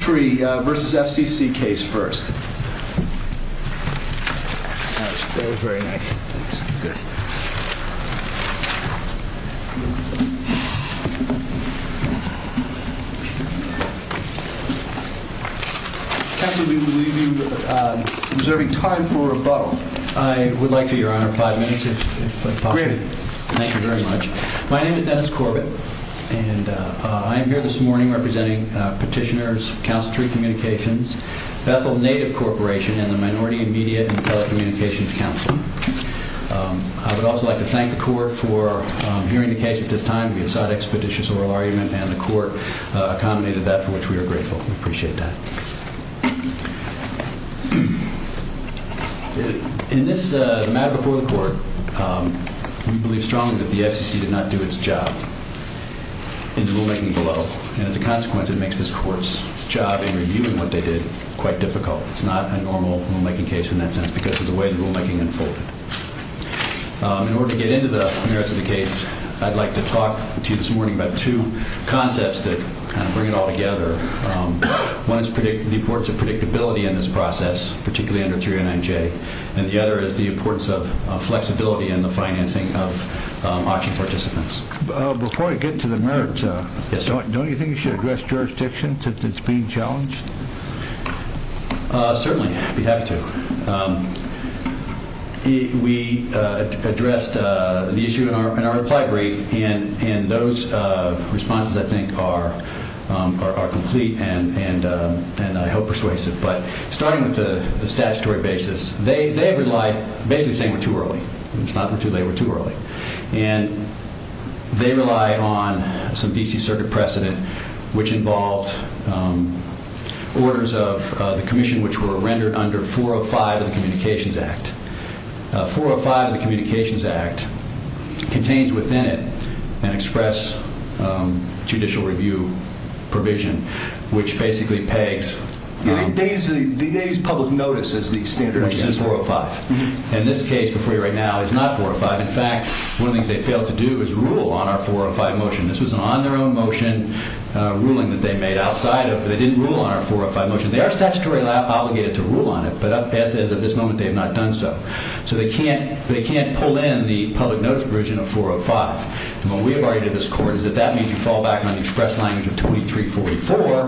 v. FCC case first. Counsel, we will leave you with observing time for rebuttal. I would like to, Your Honor, five minutes, if possible. Great. Thank you very much. My name is Dennis Corbett. And I am here this morning representing petitioners, Counsel Tree Communications, Bethel Native Corporation, and the Minority, Immediate, and Telecommunications Council. I would also like to thank the Court for hearing the case at this time. We have sought expeditious oral argument, and the Court accommodated that for which we are grateful. We appreciate that. In this matter before the Court, we believe strongly that the FCC did not do its job. In the rulemaking below. And as a consequence, it makes this Court's job in reviewing what they did quite difficult. It's not a normal rulemaking case in that sense because of the way the rulemaking unfolded. In order to get into the merits of the case, I'd like to talk to you this morning about two concepts that kind of bring it all together. One is the importance of predictability in this process, particularly under 309J. And the other is the importance of flexibility in the financing of auction participants. Before I get to the merits, don't you think you should address jurisdiction since it's being challenged? Certainly, I'd be happy to. We addressed the issue in our reply brief, and those responses, I think, are complete and I hope persuasive. But starting with the statutory basis, they relied basically saying we're too early. It's not we're too late, we're too early. And they relied on some D.C. Circuit precedent which involved orders of the Commission which were rendered under 405 of the Communications Act. 405 of the Communications Act contains within it an express judicial review provision which basically pegs... They use public notice as the standard. Which is 405. And this case before you right now is not 405. In fact, one of the things they failed to do is rule on our 405 motion. This was an on-their-own motion ruling that they made outside of... They didn't rule on our 405 motion. They are statutorily obligated to rule on it, but as of this moment, they have not done so. So they can't pull in the public notice provision of 405. And what we have argued in this court is that that means you fall back on the express language of 2344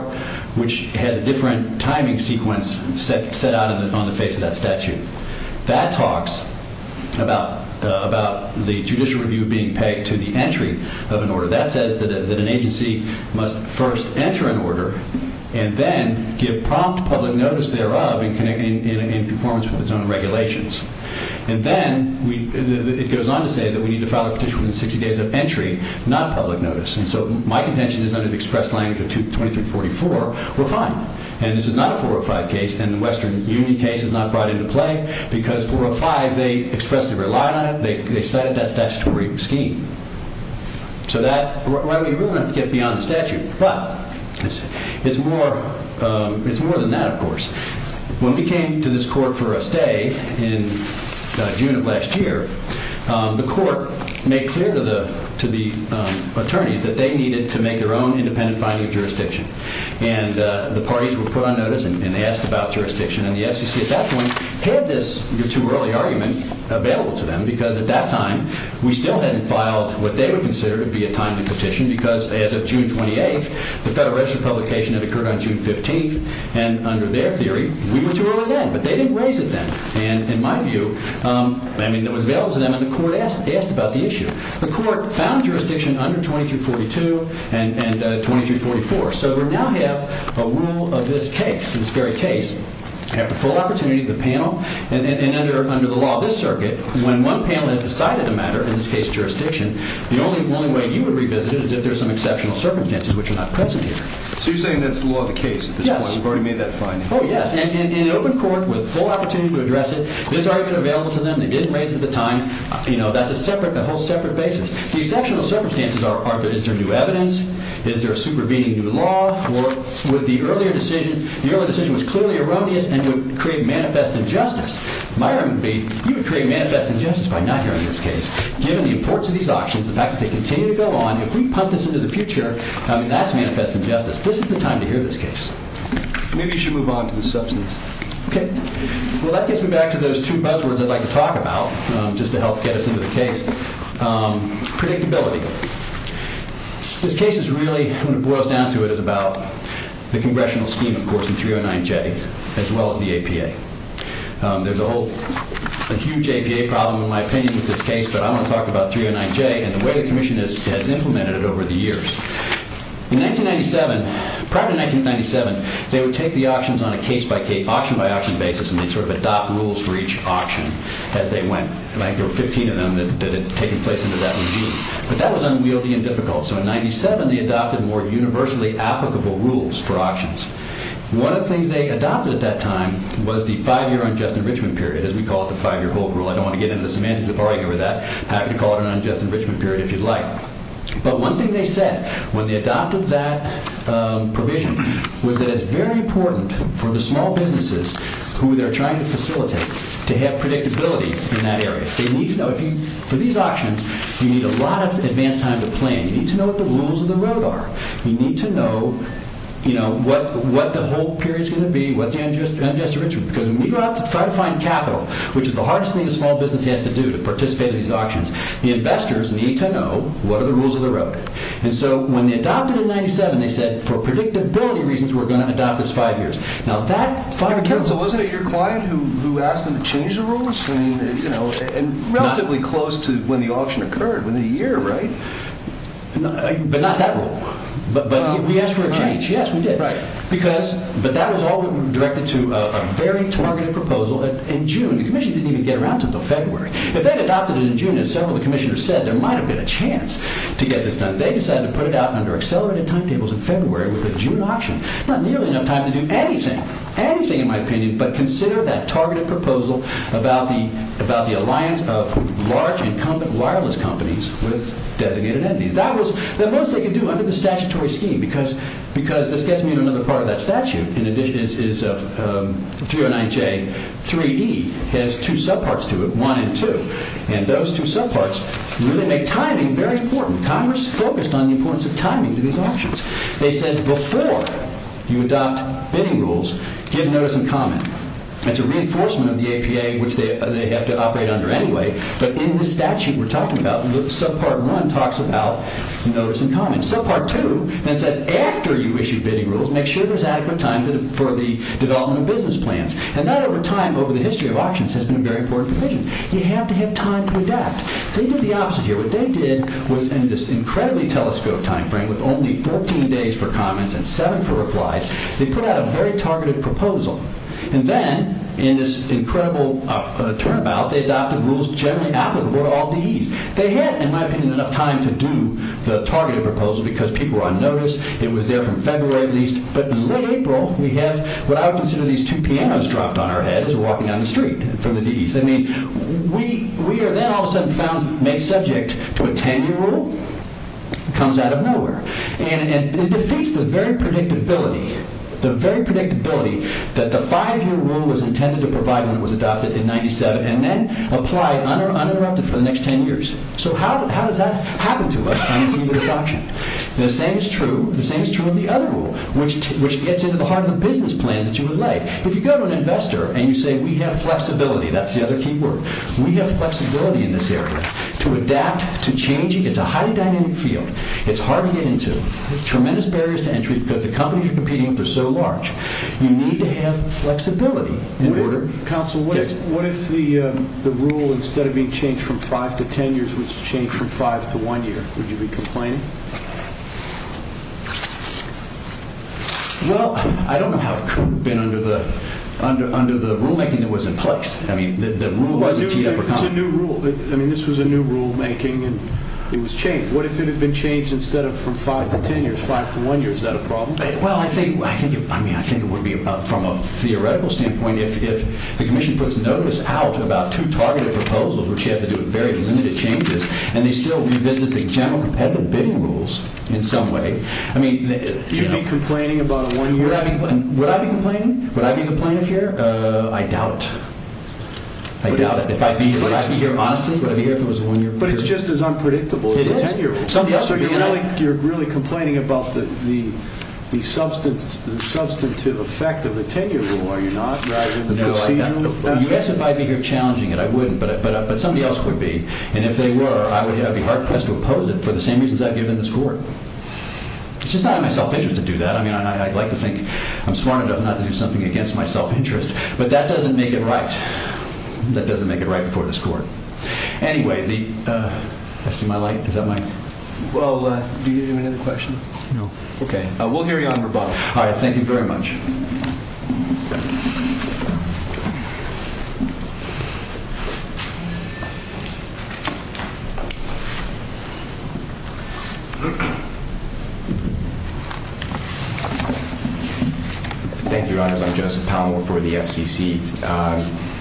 which has a different timing sequence set out on the face of that statute. That talks about the judicial review being pegged to the entry of an order. That says that an agency must first enter an order and then give prompt public notice thereof in conformance with its own regulations. And then it goes on to say that we need to file a petition within 60 days of entry, not public notice. And so my contention is under the express language of 2344, we're fine. And this is not a 405 case, and the Western Union case is not brought into play because 405, they expressly relied on it. They cited that statutory scheme. So that's why we really have to get beyond the statute. But it's more than that, of course. When we came to this court for a stay in June of last year, the court made clear to the attorneys that they needed to make their own independent finding of jurisdiction. And the parties were put on notice and asked about jurisdiction. And the FCC at that point had this too early argument available to them because at that time we still hadn't filed what they would consider to be a timely petition because as of June 28th, the Federal Register publication had occurred on June 15th. And under their theory, we were too early then. But they didn't raise it then. And in my view, I mean, it was available to them. And the court asked about the issue. The court found jurisdiction under 2342 and 2344. So we now have a rule of this case, this very case. We have the full opportunity of the panel. And under the law of this circuit, when one panel has decided a matter, in this case jurisdiction, the only way you would revisit it is if there are some exceptional circumstances which are not present here. So you're saying that's the law of the case at this point. Yes. We've already made that finding. Oh, yes. And in open court, with full opportunity to address it, this argument available to them. They didn't raise it at the time. You know, that's a whole separate basis. The exceptional circumstances are, is there new evidence? Is there a supervening new law? Or would the earlier decision, the earlier decision was clearly erroneous and would create manifest injustice. My argument would be, you would create manifest injustice by not hearing this case, given the importance of these auctions, the fact that they continue to go on. If we punt this into the future, I mean, that's manifest injustice. This is the time to hear this case. Maybe you should move on to the substance. Okay. Well, that gets me back to those two buzzwords I'd like to talk about, just to help get us into the case. Predictability. This case is really, when it boils down to it, is about the congressional scheme, of course, in 309J, as well as the APA. There's a whole, a huge APA problem, in my opinion, with this case, but I want to talk about 309J and the way the commission has implemented it over the years. In 1997, prior to 1997, they would take the auctions on a case-by-case, auction-by-auction basis, and they'd sort of adopt rules for each auction as they went. And I think there were 15 of them that had taken place under that regime. But that was unwieldy and difficult. So in 1997, they adopted more universally applicable rules for auctions. One of the things they adopted at that time was the five-year unjust enrichment period, as we call it, the five-year hold rule. I don't want to get into the semantics of arguing over that. Happy to call it an unjust enrichment period if you'd like. But one thing they said when they adopted that provision was that it's very important for the small businesses who they're trying to facilitate to have predictability in that area. For these auctions, you need a lot of advance time to plan. You need to know what the rules of the road are. You need to know what the hold period's going to be, what the unjust enrichment is. Because when we go out to try to find capital, which is the hardest thing a small business has to do to participate in these auctions, the investors need to know what are the rules of the road. And so when they adopted it in 1997, they said, for predictability reasons, we're going to adopt this five years. So was it your client who asked them to change the rules? Relatively close to when the auction occurred, within a year, right? But not that rule. But we asked for a change. Yes, we did. But that was all directed to a very targeted proposal in June. The Commission didn't even get around to it until February. If they'd adopted it in June, as several of the Commissioners said, there might have been a chance to get this done. They decided to put it out under accelerated timetables in February with the June auction. Not nearly enough time to do anything. Anything, in my opinion. But consider that targeted proposal about the alliance of large incumbent wireless companies with designated entities. That was the most they could do under the statutory scheme. Because this gets me to another part of that statute. In addition, 309J 3E has two subparts to it, 1 and 2. And those two subparts really make timing very important. Congress focused on the importance of timing to these auctions. They said, before you adopt bidding rules, give notice and comment. It's a reinforcement of the APA, which they have to operate under anyway. But in the statute we're talking about, subpart 1 talks about notice and comment. Subpart 2 then says, after you issue bidding rules, make sure there's adequate time for the development of business plans. And that, over time, over the history of auctions, has been a very important provision. You have to have time to adapt. They did the opposite here. What they did was, in this incredibly telescope time frame, with only 14 days for comments and seven for replies, they put out a very targeted proposal. And then, in this incredible turnabout, they adopted rules generally applicable to all DEs. They had, in my opinion, enough time to do the targeted proposal because people were on notice. It was there from February at least. But in late April, we have what I would consider these two pianos dropped on our head as we're walking down the street from the DEs. We are then all of a sudden found, made subject to a 10-year rule. It comes out of nowhere. And it defeats the very predictability that the 5-year rule was intended to provide when it was adopted in 1997 and then applied uninterrupted for the next 10 years. So how does that happen to us on the scene of this auction? The same is true of the other rule, which gets into the heart of the business plans that you would like. If you go to an investor and you say, we have flexibility. That's the other key word. We have flexibility in this area to adapt, to change. It's a highly dynamic field. It's hard to get into. Tremendous barriers to entry because the companies you're competing with are so large. You need to have flexibility in order… Counsel, what if the rule, instead of being changed from 5 to 10 years, was changed from 5 to 1 year? Would you be complaining? Well, I don't know how it could have been under the rulemaking that was in place. I mean, the rule wasn't… It's a new rule. I mean, this was a new rulemaking, and it was changed. What if it had been changed instead of from 5 to 10 years, 5 to 1 year? Is that a problem? Well, I think it would be, from a theoretical standpoint, if the commission puts notice out about two targeted proposals, which you have to do with very limited changes, and they still revisit the general competitive bidding rules in some way. I mean… You'd be complaining about a 1-year rule? Would I be complaining? Would I be a complainant here? I doubt it. I doubt it. If I'd be here, honestly, would I be here if it was a 1-year rule? But it's just as unpredictable as a 10-year rule. So you're really complaining about the substantive effect of the 10-year rule, are you not? No, I'm not. You ask if I'd be here challenging it. I wouldn't, but somebody else would be. And if they were, I would be hard-pressed to oppose it for the same reasons I've given in this court. It's just not in my self-interest to do that. I mean, I'd like to think I'm smart enough not to do something against my self-interest. But that doesn't make it right. That doesn't make it right before this court. Anyway, the… I see my light. Is that my… Well, do you have another question? No. Okay. We'll hear you on rebuttal. All right. Thank you very much. Thank you, Your Honors. I'm Joseph Palmore for the FCC.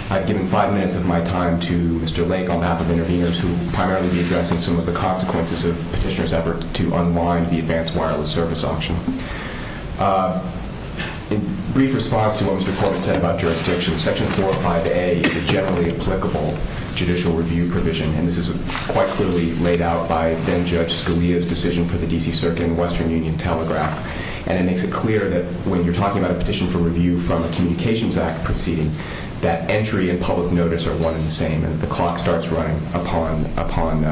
I've given five minutes of my time to Mr. Lake on behalf of interveners who will primarily be addressing some of the consequences of Petitioner's effort to unwind the advanced wireless service auction. In brief response to what Mr. Portman said about jurisdiction, Section 405A is a generally applicable judicial review provision. And this is quite clearly laid out by then-Judge Scalia's decision for the D.C. Circuit and Western Union Telegraph. And it makes it clear that when you're talking about a petition for review from a Communications Act proceeding, that entry and public notice are one and the same. And the clock starts running upon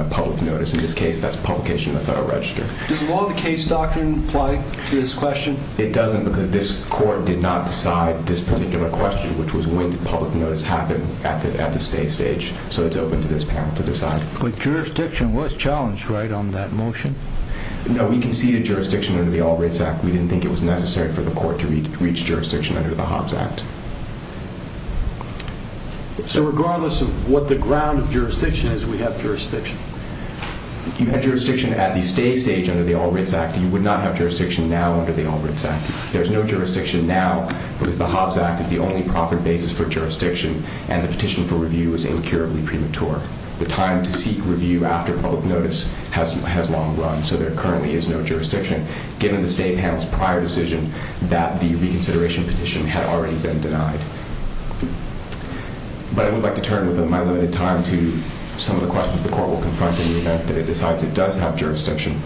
public notice. In this case, that's publication in the Federal Register. Does the law of the case doctrine apply to this question? It doesn't because this Court did not decide this particular question, which was when did public notice happen at the stay stage. So it's open to this panel to decide. But jurisdiction was challenged, right, on that motion? No, we conceded jurisdiction under the All Rights Act. We didn't think it was necessary for the Court to reach jurisdiction under the Hobbs Act. So regardless of what the ground of jurisdiction is, we have jurisdiction? You had jurisdiction at the stay stage under the All Rights Act. You would not have jurisdiction now under the All Rights Act. There's no jurisdiction now because the Hobbs Act is the only profit basis for jurisdiction, and the petition for review is incurably premature. The time to seek review after public notice has long run, so there currently is no jurisdiction, given the State panel's prior decision that the reconsideration petition had already been denied. But I would like to turn within my limited time to some of the questions the Court will confront in the event that it decides it does have jurisdiction.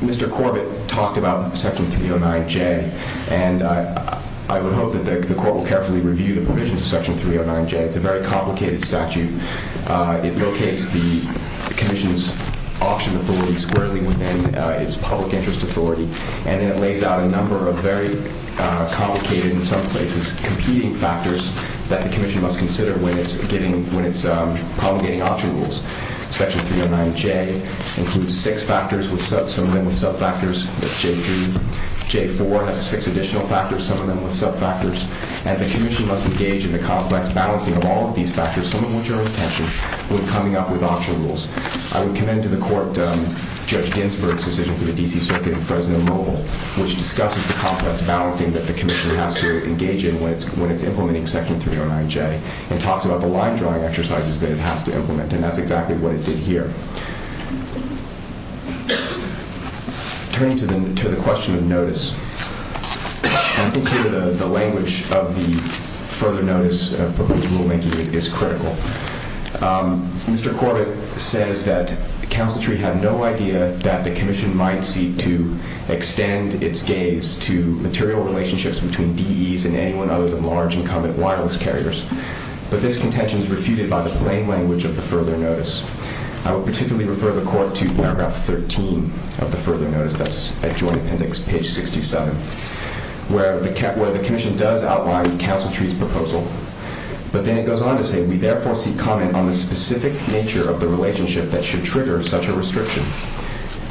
Mr. Corbett talked about Section 309J, and I would hope that the Court will carefully review the provisions of Section 309J. It's a very complicated statute. It locates the Commission's auction authority squarely within its public interest authority, and then it lays out a number of very complicated and, in some places, competing factors that the Commission must consider when it's promulgating auction rules. Section 309J includes six factors, some of them with sub-factors. J-3, J-4 has six additional factors, some of them with sub-factors. And the Commission must engage in the complex balancing of all of these factors, some of which are with tension, when coming up with auction rules. I would commend to the Court Judge Ginsburg's decision for the D.C. Circuit in Fresno Mobile, which discusses the complex balancing that the Commission has to engage in when it's implementing Section 309J and talks about the line-drawing exercises that it has to implement, and that's exactly what it did here. Turning to the question of notice, I think, here, the language of the further notice of proposed rulemaking is critical. Mr. Corbett says that Council Tree had no idea that the Commission might seek to extend its gaze to material relationships between DEs and anyone other than large incumbent wireless carriers, but this contention is refuted by the plain language of the further notice. I would particularly refer the Court to paragraph 13 of the further notice, that's at Joint Appendix, page 67, where the Commission does outline Council Tree's proposal, but then it goes on to say, we therefore seek comment on the specific nature of the relationship that should trigger such a restriction.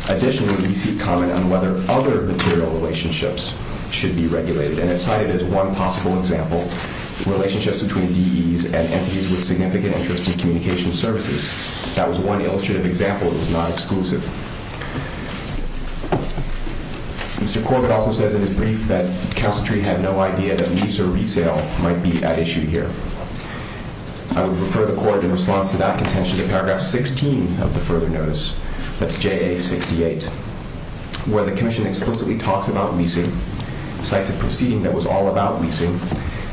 Additionally, we seek comment on whether other material relationships should be regulated, and it's cited as one possible example, relationships between DEs and entities with significant interest in communication services. That was one illustrative example. It was not exclusive. Mr. Corbett also says in his brief that Council Tree had no idea that lease or resale might be at issue here. I would refer the Court, in response to that contention, to paragraph 16 of the further notice, that's JA 68, where the Commission explicitly talks about leasing, cites a proceeding that was all about leasing,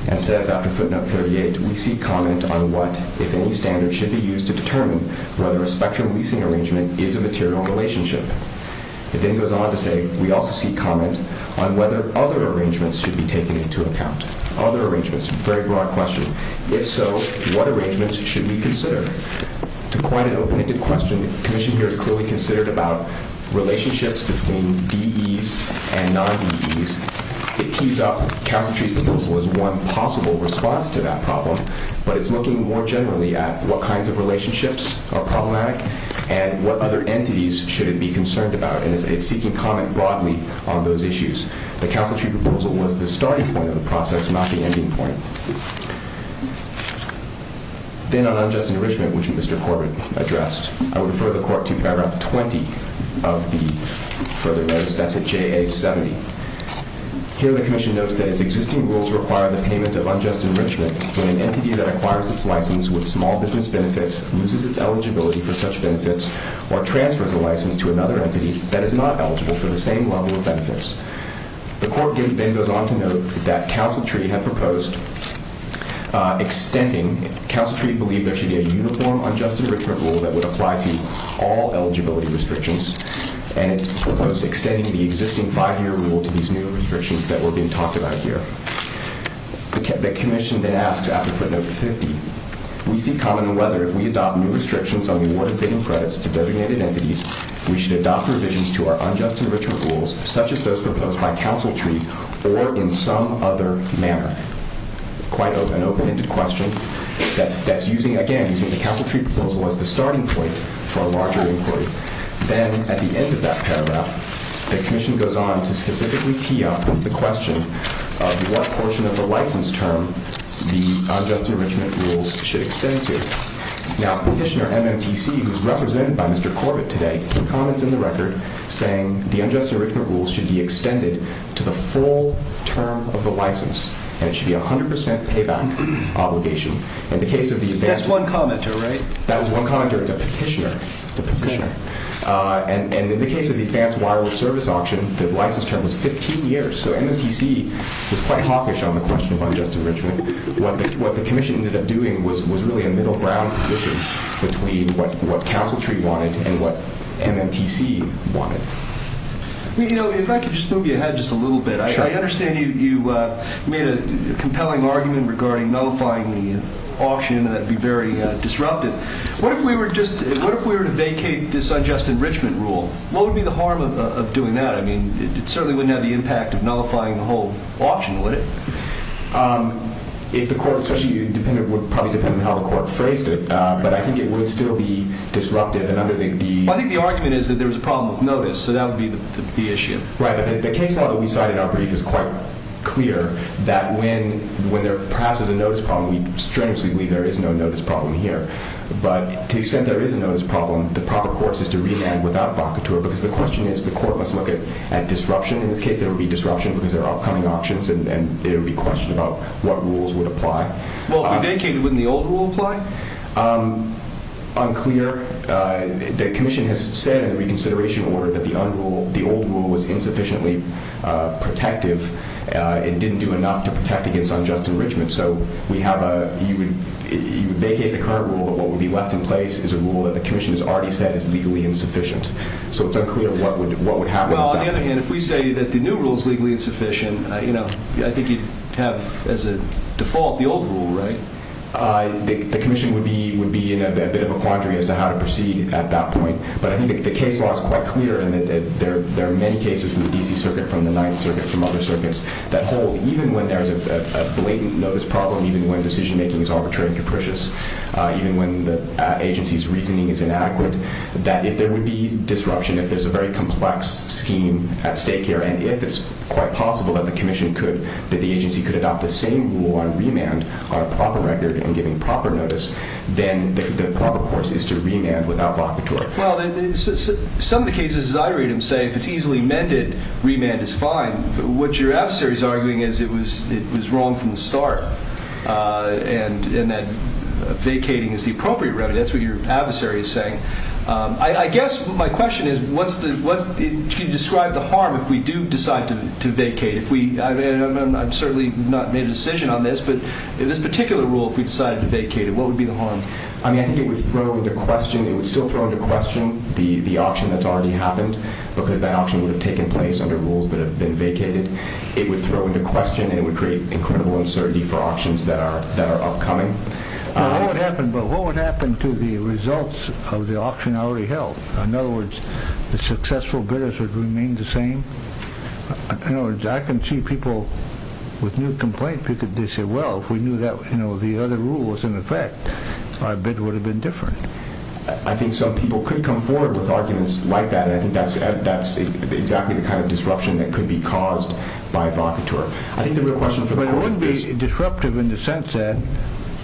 and says after footnote 38, we seek comment on what, if any, standards should be used to determine whether a spectrum leasing arrangement is a material relationship. It then goes on to say, we also seek comment on whether other arrangements should be taken into account. Other arrangements, a very broad question. If so, what arrangements should we consider? To quite an open-ended question, the Commission here is clearly considered about relationships between DEs and non-DEs. It tees up Council Tree's proposal as one possible response to that problem, but it's looking more generally at what kinds of relationships are problematic and what other entities should it be concerned about, and it's seeking comment broadly on those issues. The Council Tree proposal was the starting point of the process, not the ending point. Then on unjust enrichment, which Mr. Corbett addressed, I would refer the Court to paragraph 20 of the further notice, that's JA 70. Here the Commission notes that its existing rules require the payment of unjust enrichment when an entity that acquires its license with small business benefits, loses its eligibility for such benefits, or transfers a license to another entity that is not eligible for the same level of benefits. The Court then goes on to note that Council Tree had proposed extending, Council Tree believed there should be a uniform unjust enrichment rule that would apply to all eligibility restrictions, and it proposed extending the existing five-year rule to these new restrictions that were being talked about here. The Commission then asks, after footnote 50, We seek comment on whether, if we adopt new restrictions on the award of bidding credits to designated entities, we should adopt revisions to our unjust enrichment rules, such as those proposed by Council Tree, or in some other manner. Quite an open-ended question, that's using, again, using the Council Tree proposal as the starting point for a larger inquiry. Then, at the end of that paragraph, the Commission goes on to specifically tee up the question of what portion of the license term the unjust enrichment rules should extend to. Now, Petitioner MMTC, who's represented by Mr. Corbett today, comments in the record saying the unjust enrichment rules should be extended to the full term of the license, and it should be a 100% payback obligation. In the case of the advance... That's one commenter, right? That was one commenter. It's a petitioner. It's a petitioner. And in the case of the advance wireless service auction, the license term was 15 years. So MMTC was quite hawkish on the question of unjust enrichment. What the Commission ended up doing was really a middle-ground position between what Council Tree wanted and what MMTC wanted. Well, you know, if I could just move you ahead just a little bit, I understand you made a compelling argument regarding nullifying the auction, and that would be very disruptive. What if we were to vacate this unjust enrichment rule? What would be the harm of doing that? I mean, it certainly wouldn't have the impact of nullifying the whole auction, would it? If the court, especially you, would probably depend on how the court phrased it, but I think it would still be disruptive. I think the argument is that there was a problem with notice, so that would be the issue. Right, but the case now that we cited in our brief is quite clear that when there perhaps is a notice problem, we strenuously believe there is no notice problem here. But to the extent there is a notice problem, the proper course is to remand without avocateur, because the question is the court must look at disruption. In this case, there would be disruption because there are upcoming auctions, and it would be questioned about what rules would apply. Well, if we vacated, wouldn't the old rule apply? Unclear. The commission has said in the reconsideration order that the old rule was insufficiently protective and didn't do enough to protect against unjust enrichment. So you would vacate the current rule, but what would be left in place is a rule that the commission has already said is legally insufficient. So it's unclear what would happen. Well, on the other hand, if we say that the new rule is legally insufficient, I think you'd have as a default the old rule, right? The commission would be in a bit of a quandary as to how to proceed at that point, but I think the case law is quite clear in that there are many cases from the D.C. Circuit, from the Ninth Circuit, from other circuits that hold, even when there is a blatant notice problem, even when decision-making is arbitrary and capricious, even when the agency's reasoning is inaccurate, that if there would be disruption, if there's a very complex scheme at stake here, and if it's quite possible that the agency could adopt the same rule on remand on a proper record and giving proper notice, then the proper course is to remand without vocateur. Well, some of the cases, as I read them, say if it's easily mended, remand is fine. What your adversary is arguing is it was wrong from the start and that vacating is the appropriate remedy. That's what your adversary is saying. I guess my question is, can you describe the harm if we do decide to vacate? I've certainly not made a decision on this, but in this particular rule, if we decided to vacate, what would be the harm? I mean, I think it would still throw into question the auction that's already happened, because that auction would have taken place under rules that have been vacated. It would throw into question and it would create incredible uncertainty for auctions that are upcoming. But what would happen to the results of the auction already held? In other words, the successful bidders would remain the same? In other words, I can see people with new complaints, they say, well, if we knew that the other rule was in effect, our bid would have been different. I think some people could come forward with arguments like that, and I think that's exactly the kind of disruption that could be caused by vocateur. But it wouldn't be disruptive in the sense that,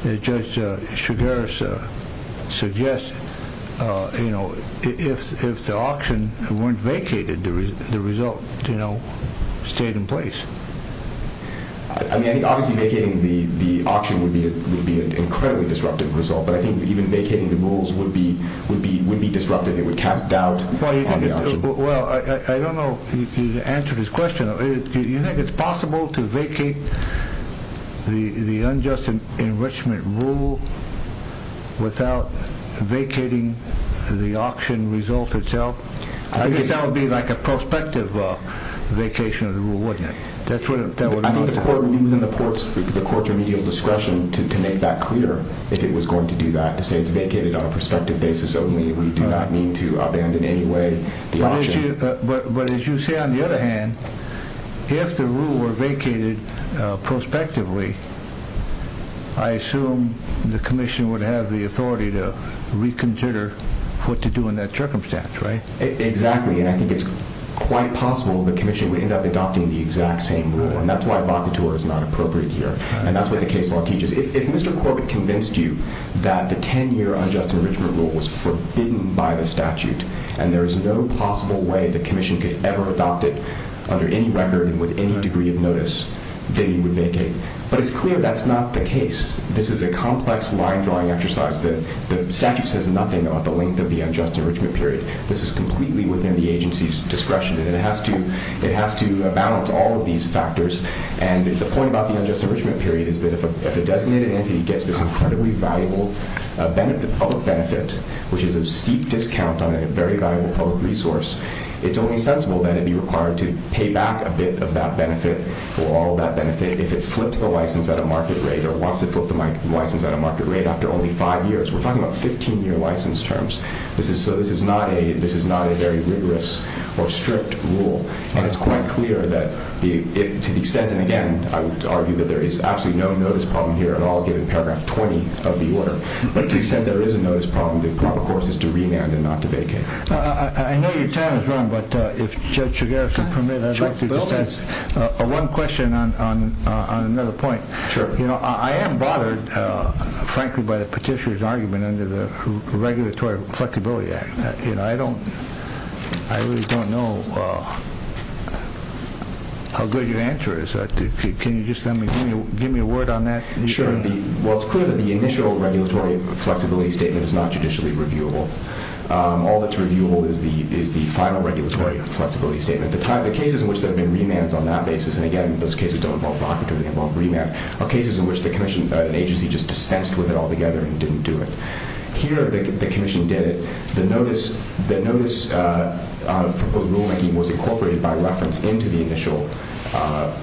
as Judge Sugaris suggests, if the auction weren't vacated, the result stayed in place. I mean, obviously vacating the auction would be an incredibly disruptive result, but I think even vacating the rules would be disruptive. It would cast doubt on the auction. Well, I don't know if you answered his question. Do you think it's possible to vacate the unjust enrichment rule without vacating the auction result itself? I think that would be like a prospective vacation of the rule, wouldn't it? I think the court would be within the court's remedial discretion to make that clear, if it was going to do that, to say it's vacated on a prospective basis only. We do not mean to abandon in any way the auction. But as you say, on the other hand, if the rule were vacated prospectively, I assume the commission would have the authority to reconsider what to do in that circumstance, right? Exactly, and I think it's quite possible the commission would end up adopting the exact same rule, and that's why vocateur is not appropriate here, and that's what the case law teaches. If Mr. Corbett convinced you that the 10-year unjust enrichment rule was forbidden by the statute, and there is no possible way the commission could ever adopt it under any record and with any degree of notice, then you would vacate. But it's clear that's not the case. This is a complex line-drawing exercise. The statute says nothing about the length of the unjust enrichment period. This is completely within the agency's discretion, and it has to balance all of these factors. And the point about the unjust enrichment period is that if a designated entity gets this incredibly valuable public benefit, which is a steep discount on a very valuable public resource, it's only sensible that it be required to pay back a bit of that benefit for all that benefit if it flips the license at a market rate or wants to flip the license at a market rate after only five years. We're talking about 15-year license terms. So this is not a very rigorous or strict rule. And it's quite clear that to the extent, and again, I would argue that there is absolutely no notice problem here at all, given Paragraph 20 of the order. But to the extent there is a notice problem, the proper course is to remand and not to vacate. I know your time is run, but if Judge Shigeru could permit, I'd like to add one question on another point. I am bothered, frankly, by the petitioner's argument under the Regulatory Flexibility Act. I really don't know how good your answer is. Can you just give me a word on that? Sure. Well, it's clear that the initial regulatory flexibility statement is not judicially reviewable. All that's reviewable is the final regulatory flexibility statement. The cases in which there have been remands on that basis, and again, those cases don't involve vacating, they involve remand, are cases in which an agency just dispensed with it altogether and didn't do it. Here, the Commission did it. The notice of proposed rulemaking was incorporated by reference into the initial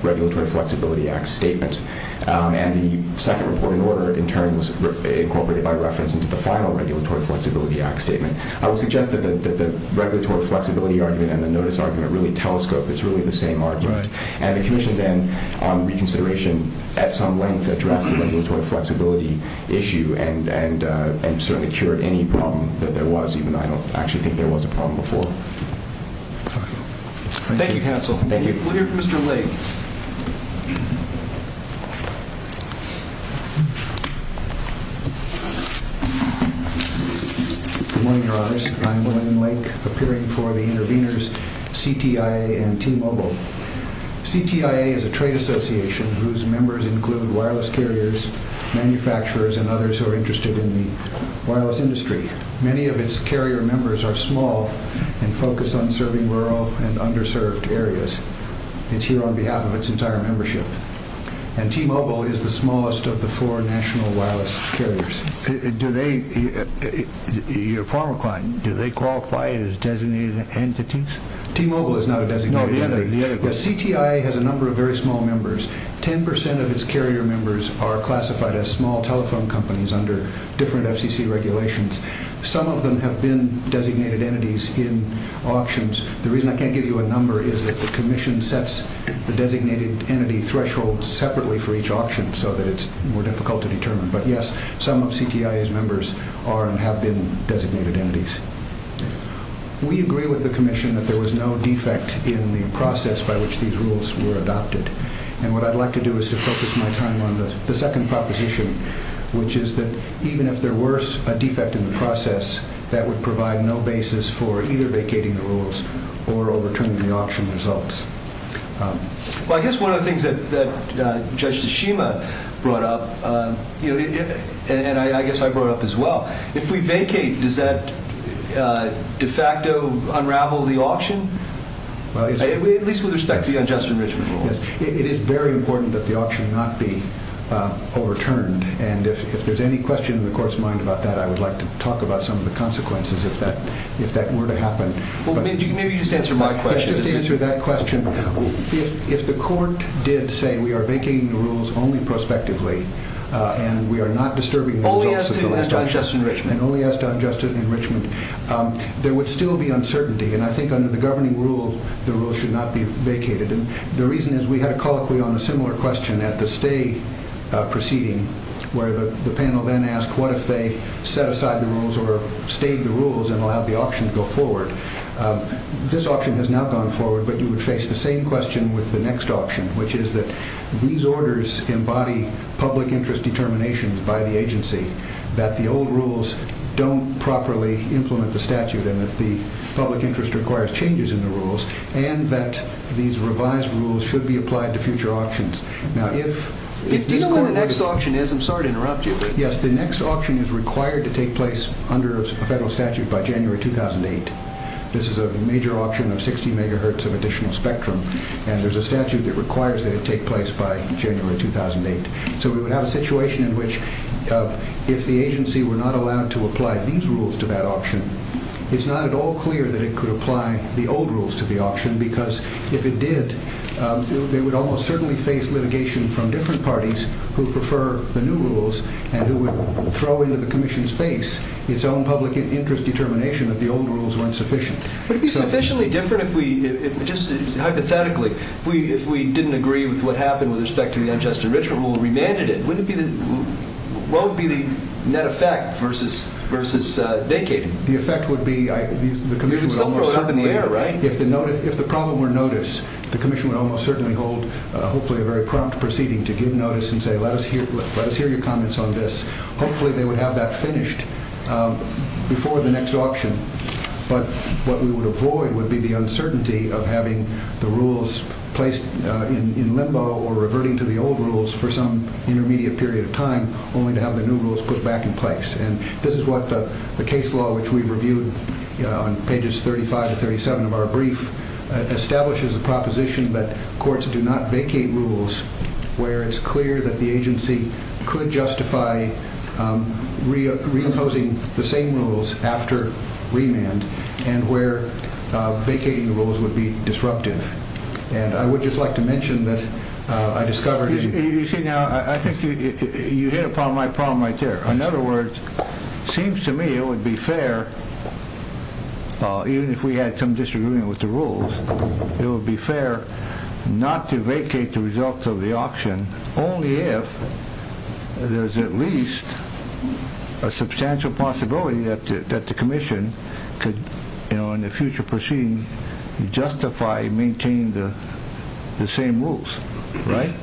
Regulatory Flexibility Act statement, and the second reporting order, in turn, was incorporated by reference into the final Regulatory Flexibility Act statement. I would suggest that the regulatory flexibility argument and the notice argument really telescope. It's really the same argument. And the Commission then, on reconsideration, at some length, addressed the regulatory flexibility issue and certainly cured any problem that there was, even though I don't actually think there was a problem before. Thank you, counsel. We'll hear from Mr. Lake. Good morning, Your Honors. I'm William Lake, appearing for the intervenors CTIA and T-Mobile. CTIA is a trade association whose members include wireless carriers, manufacturers, and others who are interested in the wireless industry. Many of its carrier members are small and focus on serving rural and underserved areas. It's here on behalf of its entire membership. And T-Mobile is the smallest of the four national wireless carriers. Your former client, do they qualify as designated entities? T-Mobile is not a designated entity. CTIA has a number of very small members. Ten percent of its carrier members are classified as small telephone companies under different FCC regulations. Some of them have been designated entities in auctions. The reason I can't give you a number is that the Commission sets the designated entity threshold separately for each auction, so that it's more difficult to determine. But, yes, some of CTIA's members are and have been designated entities. We agree with the Commission that there was no defect in the process by which these rules were adopted. And what I'd like to do is to focus my time on the second proposition, which is that even if there were a defect in the process, that would provide no basis for either vacating the rules or overturning the auction results. Well, I guess one of the things that Judge Tashima brought up, and I guess I brought up as well, if we vacate, does that de facto unravel the auction, at least with respect to the unjust enrichment rule? Yes. It is very important that the auction not be overturned. And if there's any question in the Court's mind about that, I would like to talk about some of the consequences, if that were to happen. Well, maybe you could just answer my question. Just to answer that question, if the Court did say we are vacating the rules only prospectively, and we are not disturbing the results of the election, and only as to unjust enrichment, there would still be uncertainty. And I think under the governing rule, the rules should not be vacated. And the reason is we had a colloquy on a similar question at the stay proceeding, where the panel then asked what if they set aside the rules or stayed the rules and allowed the auction to go forward. This auction has now gone forward, but you would face the same question with the next auction, which is that these orders embody public interest determinations by the agency, that the old rules don't properly implement the statute, and that the public interest requires changes in the rules, and that these revised rules should be applied to future auctions. Now, if these Court rules… Do you know when the next auction is? I'm sorry to interrupt you, but… Yes, the next auction is required to take place under a federal statute by January 2008. This is a major auction of 60 megahertz of additional spectrum, and there's a statute that requires that it take place by January 2008. So we would have a situation in which if the agency were not allowed to apply these rules to that auction, it's not at all clear that it could apply the old rules to the auction, because if it did, they would almost certainly face litigation from different parties who prefer the new rules and who would throw into the Commission's face its own public interest determination that the old rules weren't sufficient. Would it be sufficiently different if we, just hypothetically, if we didn't agree with what happened with respect to the unjust enrichment rule and remanded it? What would be the net effect versus vacating? The effect would be… You would still throw it up in the air, right? If the problem were noticed, the Commission would almost certainly hold, hopefully a very prompt proceeding, to give notice and say, let us hear your comments on this. Hopefully they would have that finished before the next auction. But what we would avoid would be the uncertainty of having the rules placed in limbo or reverting to the old rules for some intermediate period of time, only to have the new rules put back in place. And this is what the case law, which we reviewed on pages 35 and 37 of our brief, establishes a proposition that courts do not vacate rules where it's clear that the agency could justify reimposing the same rules after remand and where vacating the rules would be disruptive. And I would just like to mention that I discovered… You see, now, I think you hit upon my problem right there. In other words, it seems to me it would be fair, even if we had some disagreement with the rules, it would be fair not to vacate the results of the auction only if there's at least a substantial possibility that the Commission could, in the future proceeding, justify maintaining the same rules, right?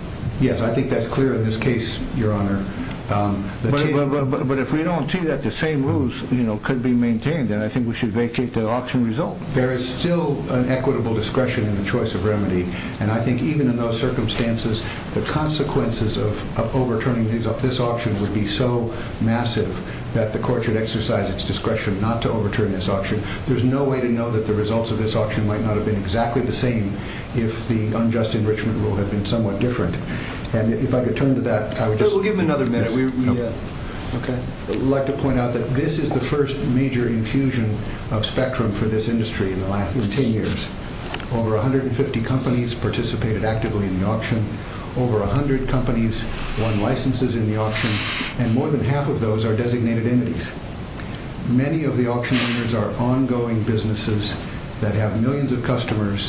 Yes, I think that's clear in this case, Your Honor. But if we don't see that the same rules could be maintained, then I think we should vacate the auction result. There is still an equitable discretion in the choice of remedy. And I think even in those circumstances, the consequences of overturning this auction would be so massive that the court should exercise its discretion not to overturn this auction. There's no way to know that the results of this auction might not have been exactly the same if the unjust enrichment rule had been somewhat different. And if I could turn to that, I would just… We'll give him another minute. I'd like to point out that this is the first major infusion of spectrum for this industry in 10 years. Over 150 companies participated actively in the auction. Over 100 companies won licenses in the auction. And more than half of those are designated entities. Many of the auction owners are ongoing businesses that have millions of customers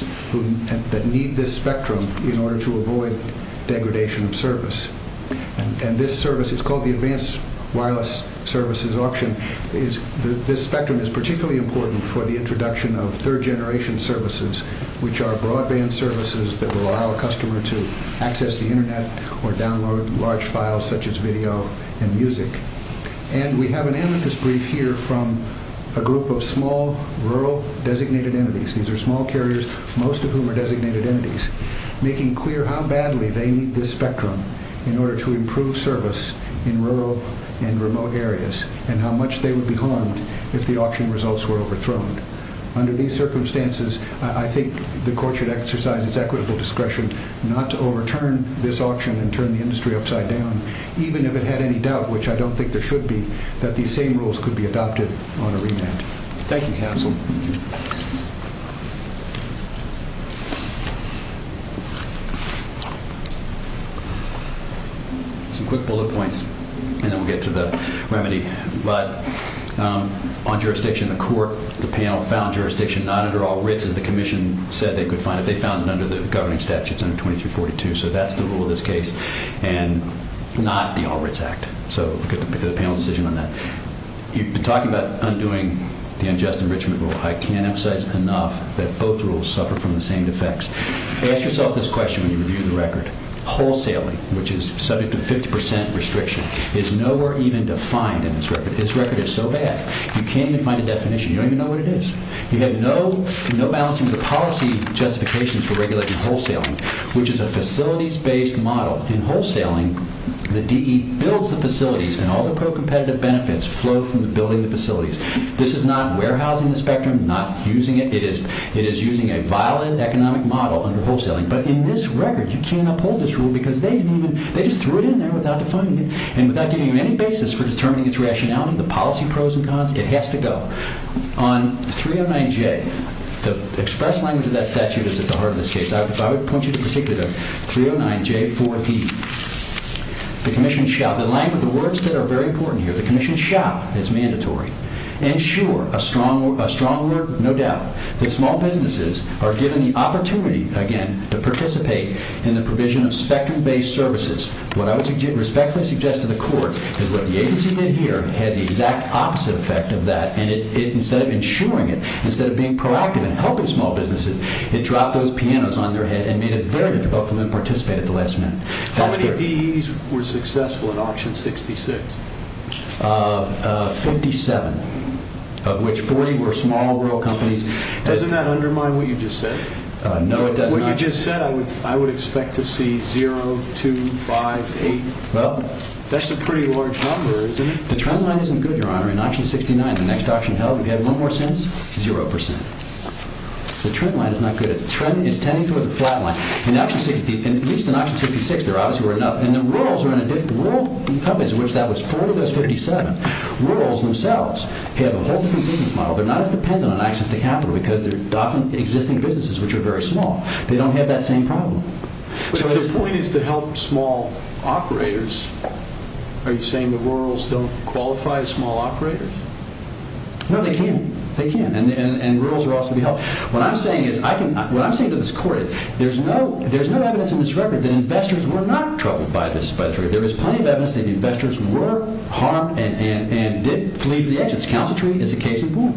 And this service is called the Advanced Wireless Services Auction. This spectrum is particularly important for the introduction of third-generation services, which are broadband services that will allow a customer to access the Internet or download large files such as video and music. And we have an amethyst brief here from a group of small rural designated entities. These are small carriers, most of whom are designated entities, making clear how badly they need this spectrum in order to improve service in rural and remote areas and how much they would be harmed if the auction results were overthrown. Under these circumstances, I think the Court should exercise its equitable discretion not to overturn this auction and turn the industry upside down, even if it had any doubt, which I don't think there should be, that these same rules could be adopted on a remand. Thank you, counsel. Some quick bullet points, and then we'll get to the remedy. But on jurisdiction, the Court, the panel, found jurisdiction not under all writs, as the Commission said they could find it. They found it under the governing statutes under 2342. So that's the rule of this case and not the All Writs Act. So look at the panel's decision on that. You've been talking about undoing the unjust enrichment rule. I can't emphasize enough that both rules suffer from the same defects. Ask yourself this question when you review the record. Wholesaling, which is subject to 50% restrictions, is nowhere even defined in this record. This record is so bad you can't even find a definition. You don't even know what it is. You have no balance of policy justifications for regulating wholesaling, which is a facilities-based model. In wholesaling, the DE builds the facilities, and all the pro-competitive benefits flow from building the facilities. This is not warehousing the spectrum, not using it. But in this record, you can't uphold this rule because they just threw it in there without defining it and without giving you any basis for determining its rationality, the policy pros and cons. It has to go. On 309J, the express language of that statute is at the heart of this case. I would point you particularly to 309J4E. The Commission shall, in line with the words that are very important here, the Commission shall, it's mandatory, ensure, a strong word, no doubt, that small businesses are given the opportunity, again, to participate in the provision of spectrum-based services. What I would respectfully suggest to the Court is what the agency did here had the exact opposite effect of that. Instead of ensuring it, instead of being proactive and helping small businesses, it dropped those pianos on their head and made it very difficult for them to participate at the last minute. How many DEs were successful in Auction 66? Fifty-seven, of which 40 were small rural companies. Doesn't that undermine what you just said? No, it does not. What you just said, I would expect to see 0, 2, 5, 8. That's a pretty large number, isn't it? The trend line isn't good, Your Honor. In Auction 69, the next auction held, if you had one more cent, 0%. The trend line is not good. It's tending toward the flat line. At least in Auction 66, there obviously were enough. The rural companies, of which that was 40 of those 57, have a whole different business model. They're not as dependent on access to capital because they're docking existing businesses, which are very small. They don't have that same problem. But if the point is to help small operators, are you saying the rurals don't qualify as small operators? No, they can't. And rurals are also to be helped. What I'm saying to this Court is that there's no evidence in this record that investors were not troubled by this. There is plenty of evidence that investors were harmed and didn't flee for the exits. Council tree is a case in point.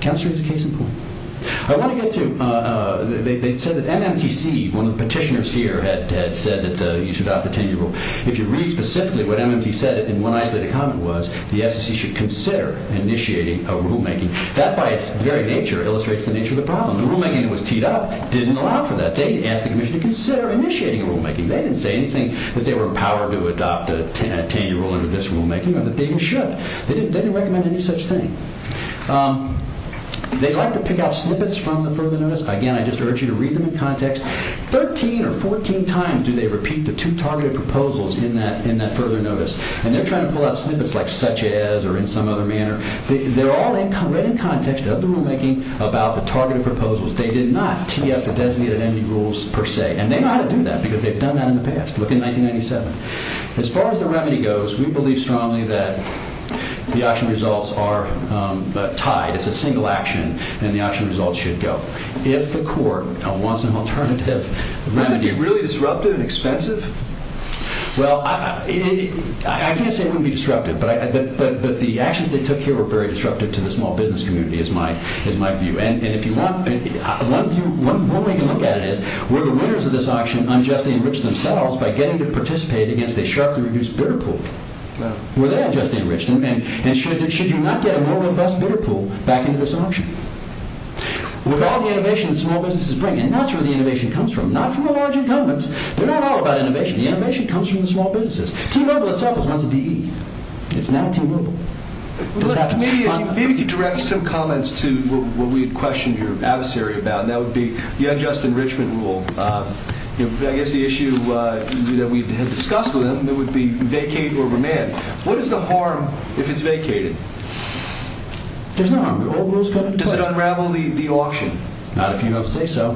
Council tree is a case in point. I want to get to... They said that MMTC, one of the petitioners here, had said that you should adopt the 10-year rule. If you read specifically what MMTC said in one isolated comment was the FCC should consider initiating a rulemaking. That, by its very nature, illustrates the nature of the problem. The rulemaking that was teed up didn't allow for that. They asked the Commission to consider initiating a rulemaking. They didn't say anything that they were empowered to adopt a 10-year rule under this rulemaking, or that they should. They didn't recommend any such thing. They'd like to pick out snippets from the further notice. Again, I just urge you to read them in context. 13 or 14 times do they repeat the two targeted proposals in that further notice. And they're trying to pull out snippets like, such as, or in some other manner. They're all read in context of the rulemaking about the targeted proposals. They did not tee up the designated ending rules, per se. And they know how to do that, because they've done that in the past. Look in 1997. As far as the remedy goes, we believe strongly that the action results are tied. It's a single action, and the action results should go. If the court wants an alternative remedy... Wouldn't it be really disruptive and expensive? Well, I can't say it wouldn't be disruptive, but the actions they took here were very disruptive to the small business community, is my view. And one way to look at it is, were the winners of this auction unjustly enriched themselves by getting to participate against a sharply reduced bidder pool? Were they unjustly enriched? And should you not get a more robust bidder pool back into this auction? With all the innovation that small businesses bring in, that's where the innovation comes from. Not from the larger governments. They're not all about innovation. The innovation comes from the small businesses. T-Mobile itself was once a DE. It's now T-Mobile. Maybe you could direct some comments to what we had questioned your adversary about, and that would be the unjust enrichment rule. I guess the issue that we had discussed with him would be vacate or remand. What is the harm if it's vacated? There's no harm. Does it unravel the auction? Not if you don't say so.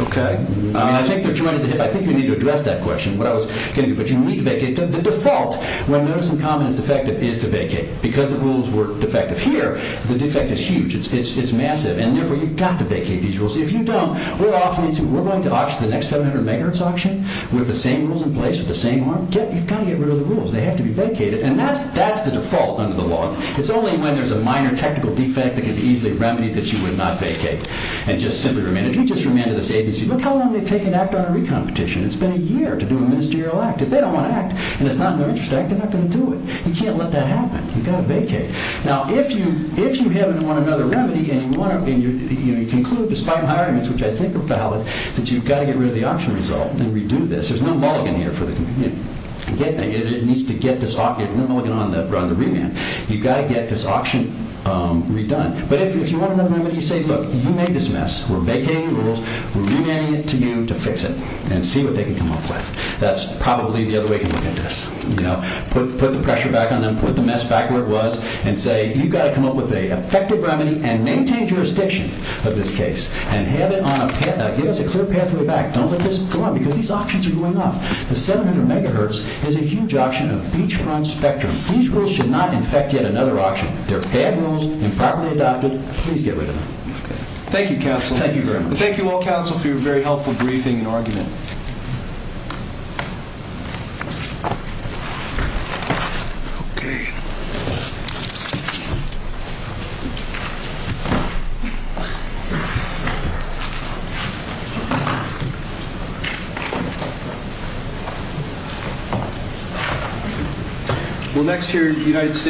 Okay. I think we need to address that question, what I was getting at. But you need to vacate. The default, when notice and comment is defective, is to vacate. Because the rules were defective here, the defect is huge. It's massive. And therefore, you've got to vacate these rules. If you don't, we're going to auction the next 700 megahertz auction with the same rules in place, with the same harm. You've got to get rid of the rules. They have to be vacated. And that's the default under the law. It's only when there's a minor technical defect that can be easily remedied that you would not vacate and just simply remand. If we just remanded this agency, look how long they've taken to act on a recompetition. It's been a year to do a ministerial act. If they don't want to act, and it's not in their interest to act, they're not going to do it. You can't let that happen. You've got to vacate. Now, if you haven't won another remedy, and you conclude, despite my arguments, which I think are valid, that you've got to get rid of the auction result and redo this, there's no mulligan here for the community. It needs to get this auction. There's no mulligan on the remand. You've got to get this auction redone. But if you want another remedy, you say, look, you made this mess. We're vacating the rules. We're remanding it to you to fix it and see what they can come up with. That's probably the other way you can look at this. Put the pressure back on them. Put the mess back where it was, and say, you've got to come up with an effective remedy and maintain jurisdiction of this case and give us a clear pathway back. Don't let this go on, because these auctions are going off. The 700 megahertz is a huge auction of beachfront spectrum. These rules should not infect yet another auction. They're bad rules, improperly adopted. Please get rid of them. Thank you, counsel. Thank you very much. Thank you all, counsel, for your very helpful briefing and argument. Okay. We'll next hear the United States.